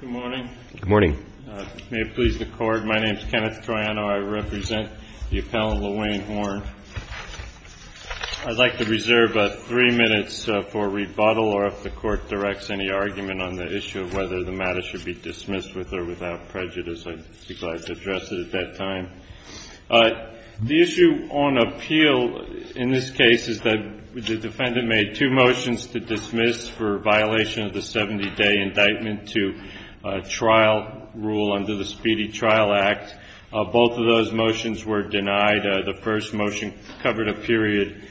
Good morning. May it please the Court, my name is Kenneth Troiano. I represent the Appellant LaWayne Horne. I'd like to reserve three minutes for rebuttal or if the Court directs any argument on the issue of whether the matter should be dismissed with or without prejudice, I'd like to address it at that time. The issue on appeal in this case is that the defendant made two motions to dismiss for violation of the 70-day indictment to trial rule under the Speedy Trial Act. Both of those motions were denied. The first motion covered a period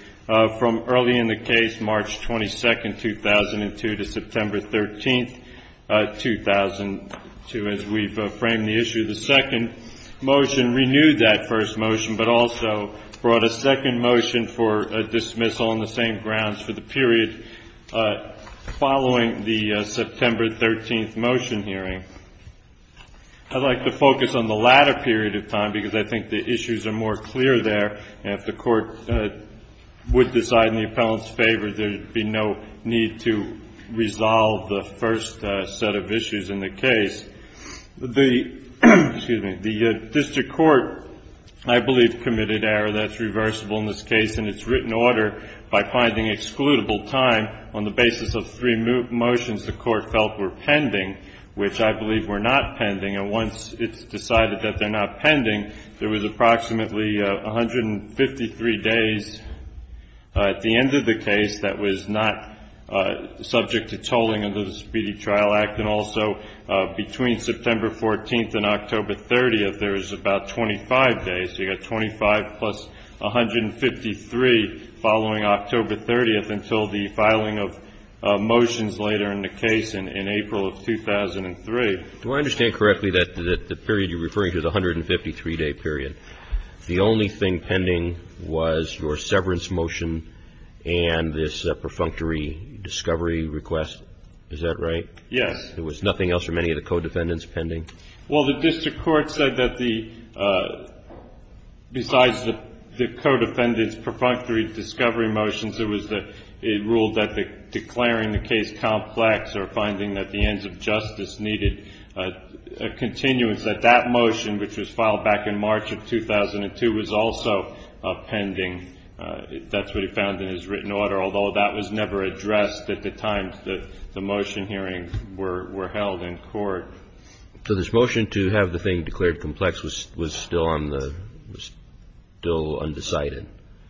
from early in the case, March 22, 2002, to September 13, 2002. As we've framed the issue the second motion renewed that first motion, but also brought a second motion for a dismissal on the same grounds for the period following the September 13 motion hearing. I'd like to focus on the latter period of time because I think the issues are more clear there and if the Court would decide in the Appellant's favor there would be no need to resolve the first set of issues in the case. The District Court, I believe, committed an error that's reversible in this case and it's written order by finding excludable time on the basis of three motions the Court felt were pending, which I believe were not pending. And once it's decided that they're not pending, there was approximately 153 days at the end of the Speedy Trial Act. And also between September 14th and October 30th, there was about 25 days. So you've got 25 plus 153 following October 30th until the filing of motions later in the case in April of 2003. Do I understand correctly that the period you're referring to is a 153-day period? The only thing pending was your severance motion and this perfunctory discovery request. Is that right? Yes. There was nothing else from any of the co-defendants pending? Well, the District Court said that besides the co-defendants' perfunctory discovery motions, it ruled that declaring the case complex or finding that the ends of justice needed a continuance, that that motion, which was filed back in March of 2002, was also pending. That's what it found in its written order, although that was never addressed at the time that the motion hearings were held in court. So this motion to have the thing declared complex was still undecided?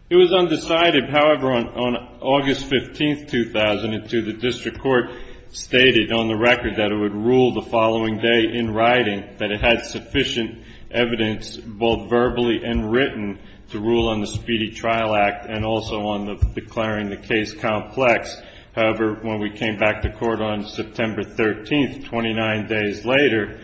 It was undecided. However, on August 15th, 2002, the District Court stated on the record that it would rule the following day in writing that it had sufficient evidence, both verbally and written, to rule on the Speedy Trial Act and also on declaring the case complex. However, when we came back to court on September 13th, 29 days later,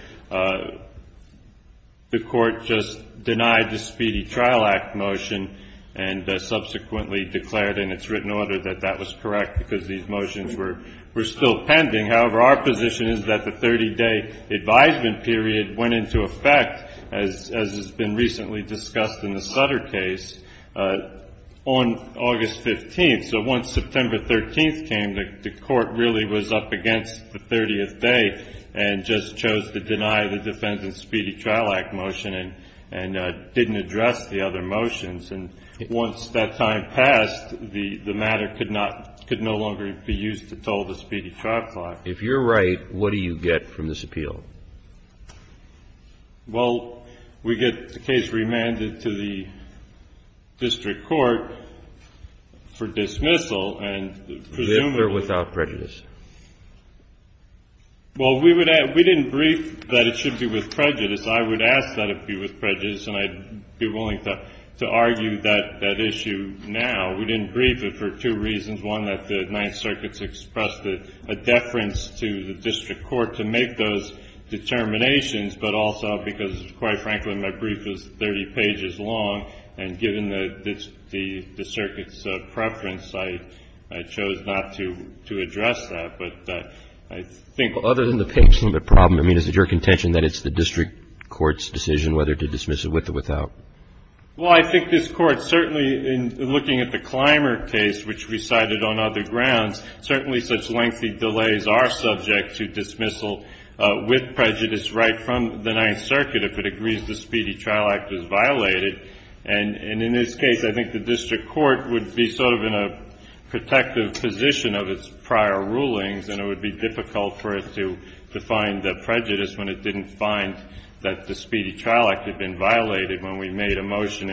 the Court just denied the Speedy Trial Act motion and subsequently declared in its written order that that was correct because these motions were still pending. However, our position is that the 30-day advisement period went into effect, as has been recently discussed in the Sutter case, on August 15th. So once September 13th came, the Court really was up against the 30th day and just chose to deny the defendant's Speedy Trial Act motion and didn't address the other motions. And once that time passed, the matter could not — could no longer be used to toll the Speedy Trial Clause. If you're right, what do you get from this appeal? Well, we get the case remanded to the District Court for dismissal. And presumably — With or without prejudice? Well, we would — we didn't brief that it should be with prejudice. I would ask that it be with prejudice, and I'd be willing to argue that issue now. We didn't brief it for two reasons, one, that the Ninth Circuit's expressed a deference to the District Court to make those determinations, but also because, quite frankly, my brief is 30 pages long, and given the Circuit's preference, I chose not to address that. But I think — Well, other than the patient, the problem, I mean, is it your contention that it's the District Court's decision whether to dismiss it with or without? Well, I think this Court, certainly in looking at the Clymer case, which recited on other grounds, certainly such lengthy delays are subject to dismissal with prejudice right from the Ninth Circuit if it agrees the Speedy Trial Act was violated. And in this case, I think the District Court would be sort of in a protective position of its prior rulings, and it would be difficult for it to find the prejudice when it didn't find that the Speedy Trial Act had been violated when we made a motion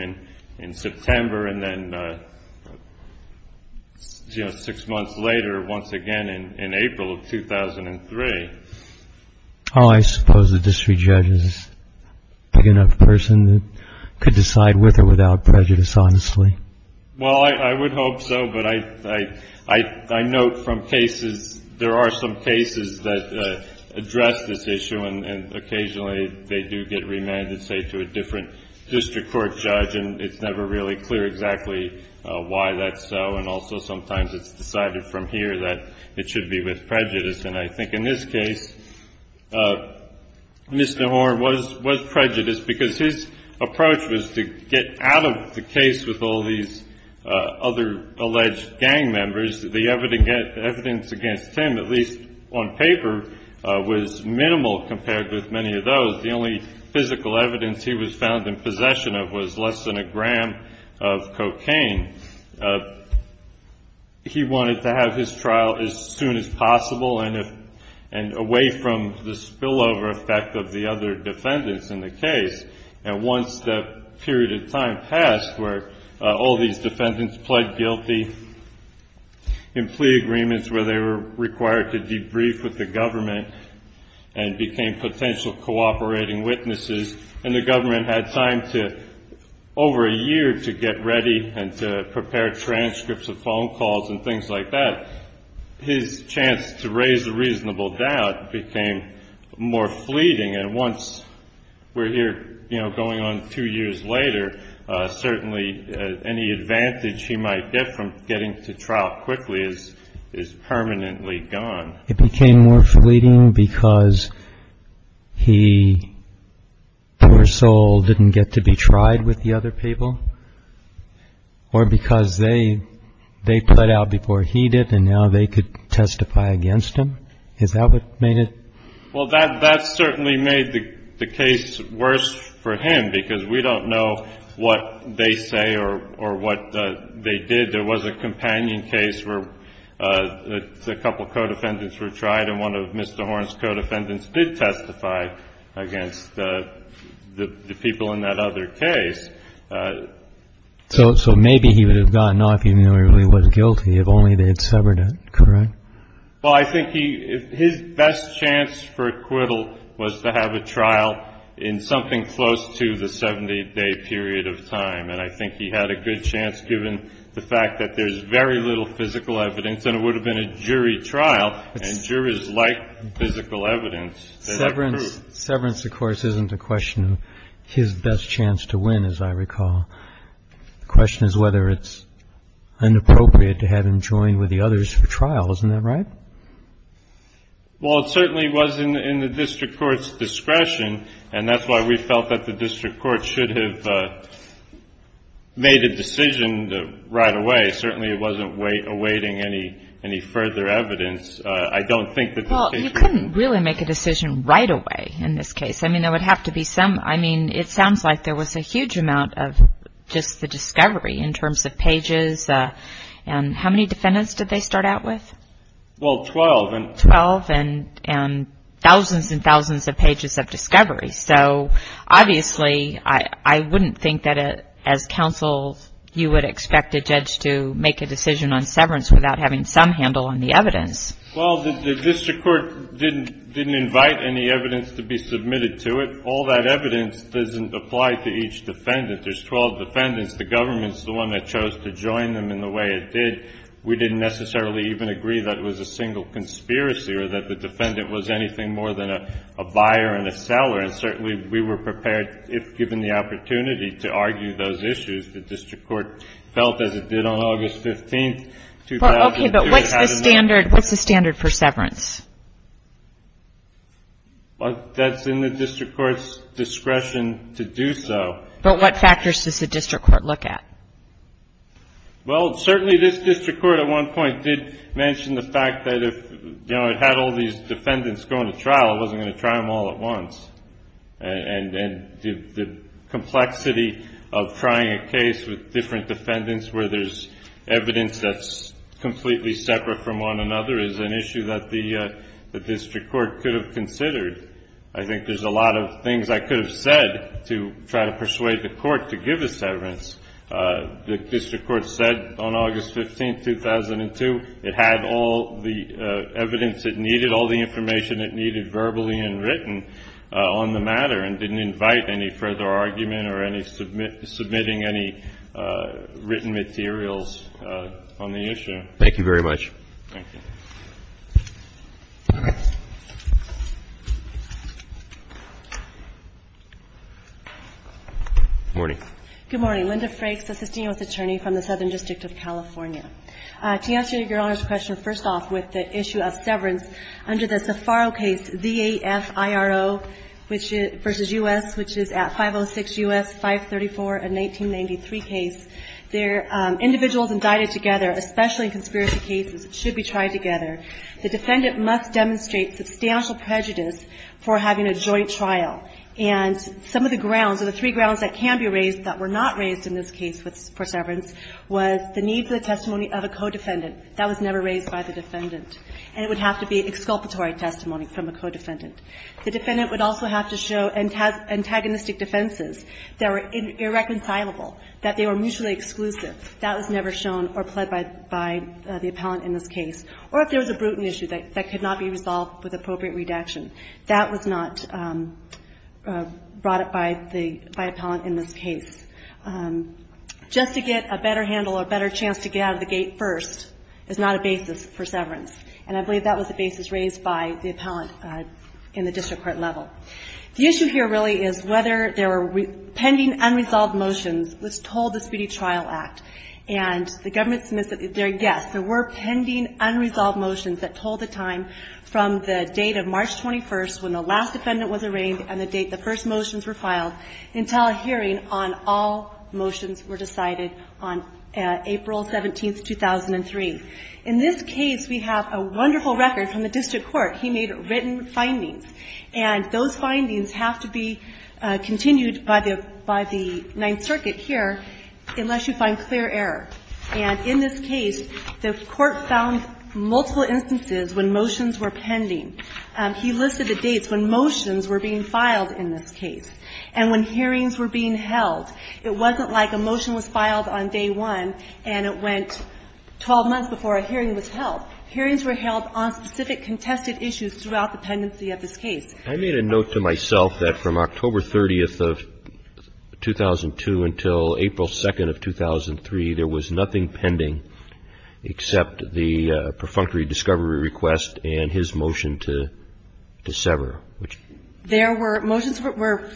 in September and then, you know, six months later, once again in April of 2003. Oh, I suppose the District Judge is a big enough person that could decide with or without prejudice, honestly. Well, I would hope so, but I note from cases — there are some cases that address this issue, and occasionally they do get remanded, say, to a different District Court judge, and it's never really clear exactly why that's so. And also sometimes it's decided from here that it should be with prejudice. And I think in this case, Mr. Horne was prejudiced because his approach was to get out of the case with all these other alleged gang members. The evidence against him, at least on paper, was minimal compared with many of those. The only physical evidence he was found in possession of was less than a gram of cocaine. He wanted to have his trial as soon as possible and away from the spillover effect of the other defendants in the case. And once that period of time passed where all these defendants pled guilty in plea agreements where they were required to debrief with the government and became potential cooperating witnesses, and the government had time to — over a series of transcripts of phone calls and things like that, his chance to raise a reasonable doubt became more fleeting. And once we're here going on two years later, certainly any advantage he might get from getting to trial quickly is permanently gone. It became more fleeting because he, poor soul, didn't get to be tried with the other people, or because they pled out before he did, and now they could testify against him. Is that what made it? Well, that certainly made the case worse for him, because we don't know what they say or what they did. There was a companion case where a couple of co-defendants were tried, and one of Mr. Horne's co-defendants did testify against the people in that other case. So maybe he would have gotten off even though he really was guilty if only they had severed it, correct? Well, I think his best chance for acquittal was to have a trial in something close to the 70-day period of time, and I think he had a good chance given the fact that there's very little physical evidence, and it would have been a jury trial, and jurors like physical evidence. Severance, of course, isn't a question of his best chance to win, as I recall. The question is whether it's inappropriate to have him join with the others for trial. Isn't that right? Well, it certainly was in the district court's discretion, and that's why we felt that the district court should have made a decision right away. Certainly, it wasn't awaiting a jury trial. Well, you couldn't really make a decision right away in this case. I mean, there would have to be some – I mean, it sounds like there was a huge amount of just the discovery in terms of pages, and how many defendants did they start out with? Well, 12. Twelve, and thousands and thousands of pages of discovery. So obviously, I wouldn't think that as counsel, you would expect a judge to make a decision on severance without having some handle on the evidence. Well, the district court didn't invite any evidence to be submitted to it. All that evidence doesn't apply to each defendant. There's 12 defendants. The government's the one that chose to join them in the way it did. We didn't necessarily even agree that it was a single conspiracy or that the defendant was anything more than a buyer and a seller. And certainly, we were prepared, if given the opportunity, to argue those issues. The district court felt as it did on August 15, 2002, it had a – Okay, but what's the standard for severance? That's in the district court's discretion to do so. But what factors does the district court look at? Well, certainly, this district court at one point did mention the fact that if, you know, it had all these defendants going to trial, it wasn't going to try them all at once. And the complexity of trying a case with different defendants where there's evidence that's completely separate from one another is an issue that the district court could have considered. I think there's a lot of things I could have said to try to persuade the court to give a severance. The district court said on August 15, 2002, it had all the evidence it needed, all the information it needed verbally and written on the matter and didn't invite any further argument or any – submitting any written materials on the issue. Thank you very much. Thank you. Good morning. Good morning. Linda Frakes, assistant U.S. attorney from the Southern District of California. To answer Your Honor's question, first off, with the issue of severance, under the Zaffaro case, V.A.F.I.R.O. v. U.S., which is at 506 U.S. 534 and 1993 case, there are individuals indicted together, especially in conspiracy cases. It should be tried together. The defendant must demonstrate substantial prejudice for having a joint trial. And some of the grounds or the three grounds that can be raised that were not raised in this case for severance was the need for the testimony of a co-defendant. That was never raised by the defendant. And it would have to be exculpatory testimony from a co-defendant. The defendant would also have to show antagonistic defenses that were irreconcilable, that they were mutually exclusive. That was never shown or pled by the appellant in this case. Or if there was a brutal issue that could not be resolved with appropriate redaction. That was not brought up by the appellant in this case. Just to get a better handle or a better chance to get out of the gate first is not a basis for severance. And I believe that was the basis raised by the appellant in the district court level. The issue here really is whether there were pending unresolved motions was told the Speedy Trial Act. And the government submits their guess. There were pending unresolved motions that told the time from the date of March 21st when the last defendant was arraigned and the date the first motions were filed until a hearing on all motions were decided on April 17th, 2003. In this case, we have a wonderful record from the district court. He made written findings. And those findings have to be continued by the Ninth Circuit here unless you find clear error. And in this case, the court found multiple instances when motions were pending. He listed the dates when motions were being filed in this case and when hearings were being held. It wasn't like a motion was filed on day one and it went 12 months before a hearing was held. Hearings were held on specific contested issues throughout the pendency of this case. I made a note to myself that from October 30th of 2002 until April 2nd of 2003, there was nothing pending except the perfunctory discovery request and his motion to sever. There were motions that were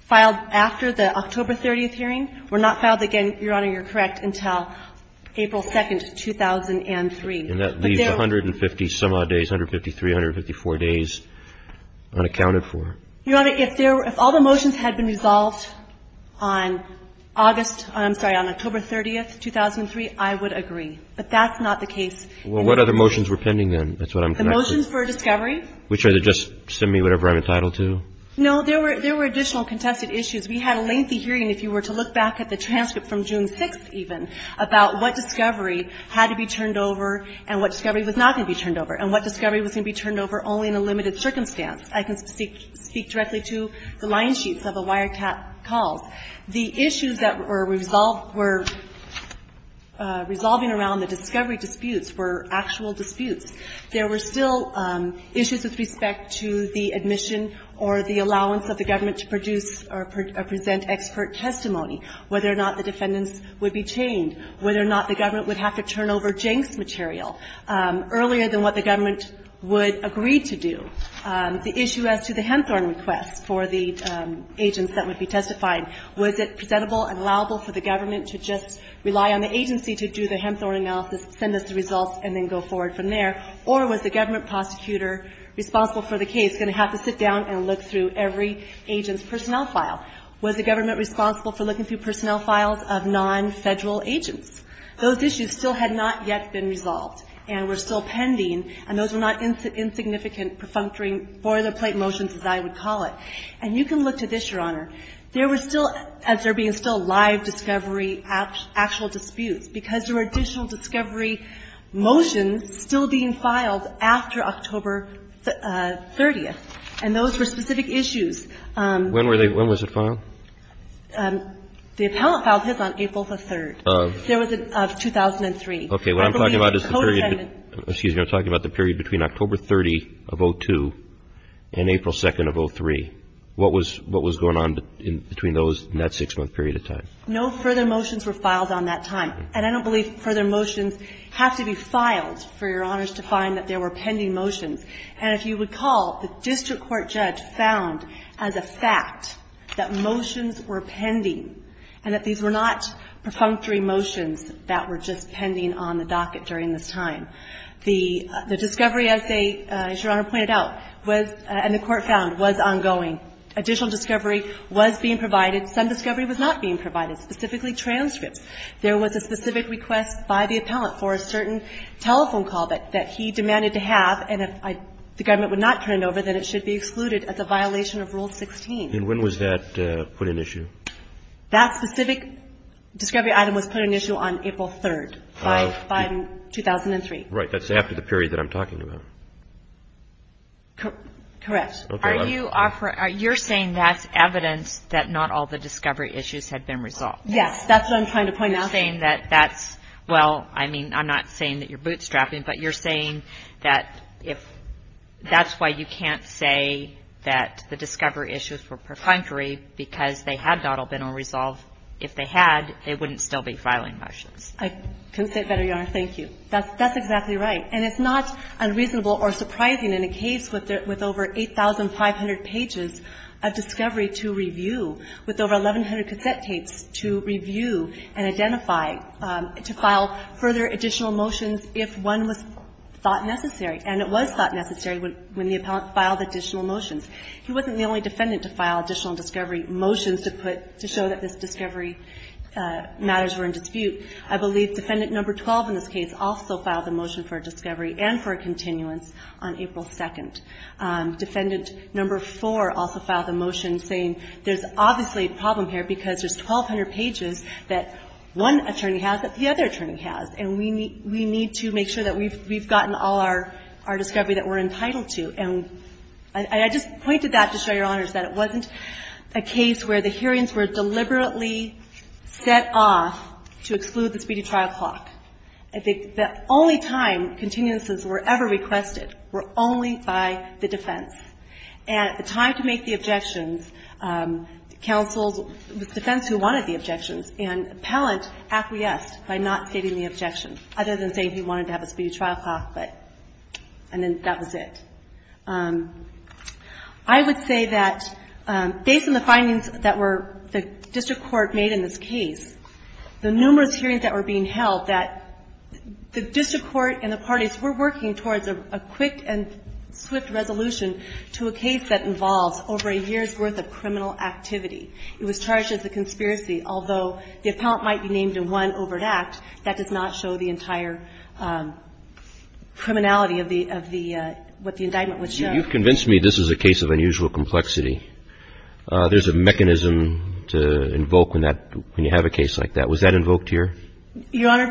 filed after the October 30th hearing were not filed again, Your Honor, you're correct, until April 2nd, 2003. And that leaves 150 some odd days, 153, 154 days unaccounted for. Your Honor, if all the motions had been resolved on August, I'm sorry, on October 30th, 2003, I would agree. But that's not the case. Well, what other motions were pending then? That's what I'm connected to. The motions for discovery. Which are to just send me whatever I'm entitled to? No, there were additional contested issues. We had a lengthy hearing, if you were to look back at the transcript from June 6th even, about what discovery had to be turned over and what discovery was not going to be turned over and what discovery was going to be turned over only in a limited circumstance. I can speak directly to the line sheets of the wiretap calls. The issues that were resolved were resolving around the discovery disputes were actual disputes. There were still issues with respect to the admission or the allowance of the government to produce or present expert testimony, whether or not the defendants would be chained, whether or not the government would have to turn over Jenks material earlier than what the government would agree to do. The issue as to the Hempthorne request for the agents that would be testified, was it presentable and allowable for the government to just rely on the agency to do the Hempthorne analysis, send us the results, and then go forward from there? Or was the government prosecutor responsible for the case going to have to sit down and look through every agent's personnel file? Was the government responsible for looking through personnel files of non-Federal agents? Those issues still had not yet been resolved and were still pending, and those were not insignificant, perfunctory, boilerplate motions, as I would call it. And you can look to this, Your Honor. There were still, as there being still live discovery actual disputes, because there were additional discovery motions still being filed after October 30th, and those were specific issues. When was it filed? The appellant filed his on April the 3rd. There was a 2003. Okay. What I'm talking about is the period between October 30 of 02 and April 2nd of 03. What was going on between those in that six-month period of time? No further motions were filed on that time, and I don't believe further motions have to be filed for Your Honors to find that there were pending motions. And if you recall, the district court judge found as a fact that motions were pending and that these were not perfunctory motions that were just pending on the docket during this time. The discovery, as Your Honor pointed out, was, and the court found, was ongoing. Additional discovery was being provided. Some discovery was not being provided, specifically transcripts. There was a specific request by the appellant for a certain telephone call that he demanded to have, and if the government would not turn it over, then it should be excluded as a violation of Rule 16. And when was that put in issue? That specific discovery item was put in issue on April 3rd by 2003. Right. That's after the period that I'm talking about. Correct. Are you saying that's evidence that not all the discovery issues had been resolved? Yes, that's what I'm trying to point out. You're saying that that's, well, I mean, I'm not saying that you're bootstrapping, but you're saying that if that's why you can't say that the discovery issues were perfunctory because they had not all been resolved. If they had, they wouldn't still be filing motions. I couldn't say it better, Your Honor. Thank you. That's exactly right. And it's not unreasonable or surprising in a case with over 8,500 pages of discovery to review, with over 1,100 cassette tapes to review and identify, to file further additional motions if one was thought necessary. And it was thought necessary when the appellant filed additional motions. He wasn't the only defendant to file additional discovery motions to put, to show that this discovery matters were in dispute. I believe Defendant Number 12 in this case also filed a motion for discovery and for a continuance on April 2nd. Defendant Number 4 also filed a motion saying there's obviously a problem here because there's 1,200 pages that one attorney has that the other attorney has. And we need to make sure that we've gotten all our discovery that we're entitled to. And I just pointed that to show, Your Honors, that it wasn't a case where the hearings were deliberately set off to exclude the speedy trial clock. The only time continuances were ever requested were only by the defense. And at the time to make the objections, counsels, the defense who wanted the objections and appellant acquiesced by not stating the objection, other than saying he wanted to have a speedy trial clock, but, and then that was it. I would say that based on the findings that were, the district court made in this case, the numerous hearings that were being held that the district court and the parties were working towards a quick and swift resolution to a case that involves over a year's worth of criminal activity. It was charged as a conspiracy, although the appellant might be named in one overt act, that does not show the entire criminality of the, of the, what the indictment was. You've convinced me this is a case of unusual complexity. There's a mechanism to invoke when that, when you have a case like that. Was that invoked here? Your Honor,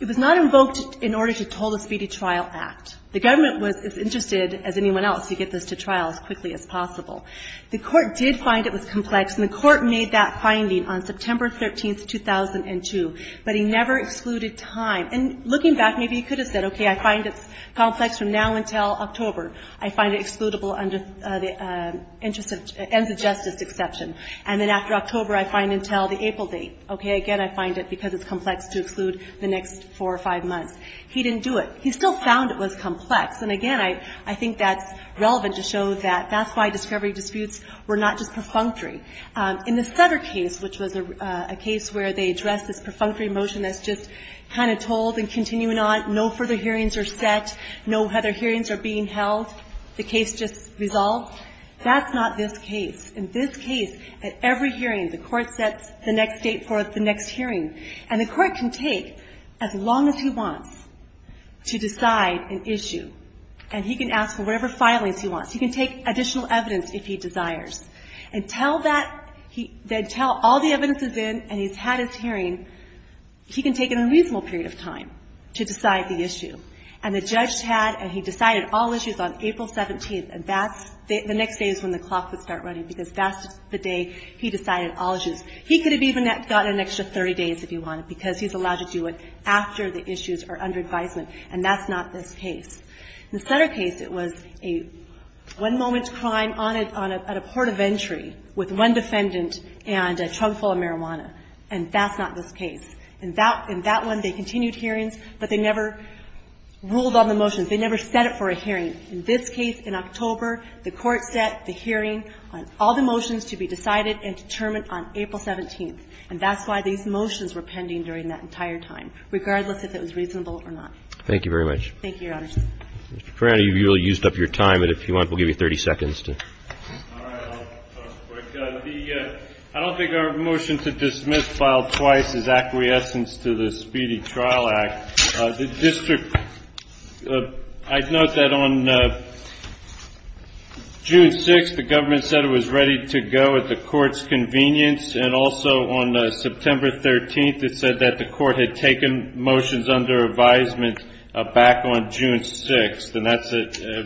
it was not invoked in order to toll a speedy trial act. The government was as interested as anyone else to get this to trial as quickly as possible. The court did find it was complex, and the court made that finding on September 13th, 2002, but he never excluded time. And looking back, maybe he could have said, okay, I find it complex from now until October. I find it excludable under the interest of, ends of justice exception. And then after October, I find until the April date. Okay. Again, I find it because it's complex to exclude the next four or five months. He didn't do it. He still found it was complex. And again, I think that's relevant to show that that's why discovery disputes were not just perfunctory. In the Sutter case, which was a case where they addressed this perfunctory motion that's just kind of told and continuing on, no further hearings are set, no other hearings are being held. The case just resolved. That's not this case. In this case, at every hearing, the court sets the next date for the next hearing. And the court can take as long as he wants to decide an issue. And he can ask for whatever filings he wants. He can take additional evidence if he desires. And tell that he then tell all the evidence is in and he's had his hearing, he can take a reasonable period of time to decide the issue. And the judge had and he decided all issues on April 17th. And that's the next day is when the clock would start running because that's the day he decided all issues. He could have even gotten an extra 30 days if he wanted because he's allowed to do it after the issues are under advisement. And that's not this case. In the Sutter case, it was a one-moment crime on a port of entry with one defendant and a trunk full of marijuana. And that's not this case. In that one, they continued hearings, but they never ruled on the motions. They never set it for a hearing. In this case, in October, the court set the hearing on all the motions to be decided and determined on April 17th. And that's why these motions were pending during that entire time, regardless if it was reasonable or not. Thank you very much. Thank you, Your Honor. Ms. Perrata, you really used up your time, and if you want, we'll give you 30 seconds to. All right. I'll pause the break. The – I don't think our motion to dismiss filed twice is acquiescence to the Speedy Trial Act. The district – I'd note that on June 6th, the government said it was ready to go at the court's convenience. And also, on September 13th, it said that the court had taken motions under advisement back on June 6th. And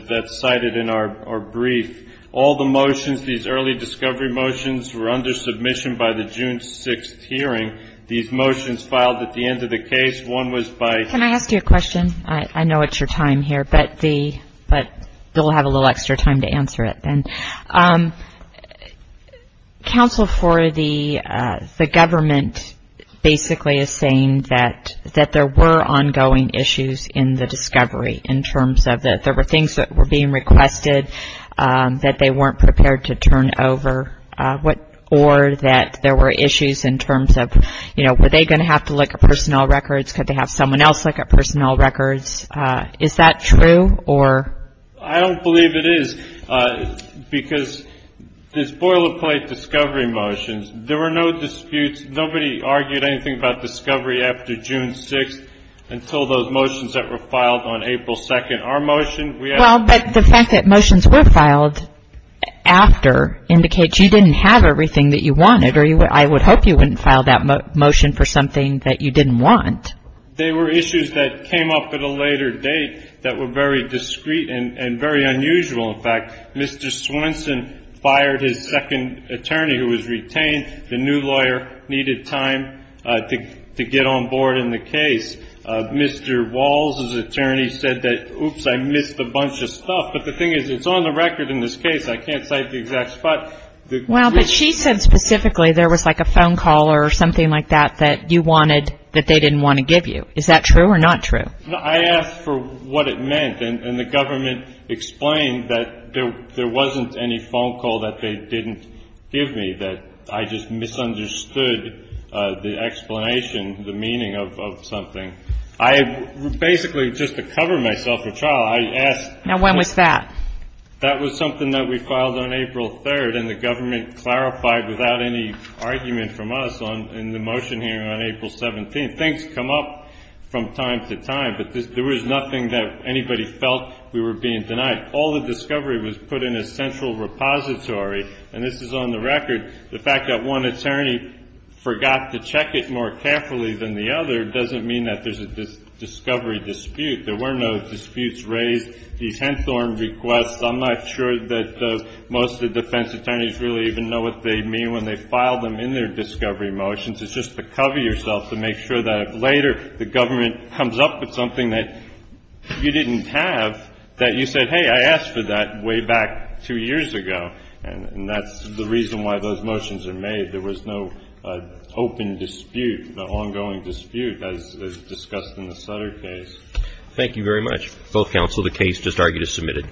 that's cited in our brief. All the motions, these early discovery motions, were under submission by the June 6th hearing. These motions filed at the end of the case. One was by – Can I ask you a question? I know it's your time here, but the – but you'll have a little extra time to answer it. And counsel for the government basically is saying that there were ongoing issues in the discovery, in terms of that there were things that were being requested that they weren't prepared to turn over, or that there were issues in terms of, you know, were they going to have to look at personnel records? Could they have someone else look at personnel records? Is that true, or – I don't believe it is, because the spoiler plate discovery motions, there were no disputes. Nobody argued anything about discovery after June 6th until those motions that were filed on April 2nd. Our motion – Well, but the fact that motions were filed after indicates you didn't have everything that you wanted. Or I would hope you wouldn't file that motion for something that you didn't want. They were issues that came up at a later date that were very discreet and very unusual. In fact, Mr. Swenson fired his second attorney who was retained. The new lawyer needed time to get on board in the case. Mr. Walls' attorney said that, oops, I missed a bunch of stuff. But the thing is, it's on the record in this case. I can't cite the exact spot. Well, but she said specifically there was like a phone call or something like that that you wanted that they didn't want to give you. Is that true or not true? I asked for what it meant. And the government explained that there wasn't any phone call that they didn't give me, that I just misunderstood the explanation, the meaning of something. I basically, just to cover myself for trial, I asked – Now, when was that? That was something that we filed on April 3rd. And the government clarified without any argument from us in the motion hearing on April 17th. Things come up from time to time. But there was nothing that anybody felt we were being denied. All the discovery was put in a central repository. And this is on the record. The fact that one attorney forgot to check it more carefully than the other doesn't mean that there's a discovery dispute. There were no disputes raised. I'm not sure that most of the defense attorneys really even know what they mean when they file them in their discovery motions. It's just to cover yourself to make sure that later the government comes up with something that you didn't have, that you said, hey, I asked for that way back two years ago. And that's the reason why those motions are made. There was no open dispute, no ongoing dispute as discussed in the Sutter case. Thank you very much. Both counsel, the case just argued is submitted. Good morning.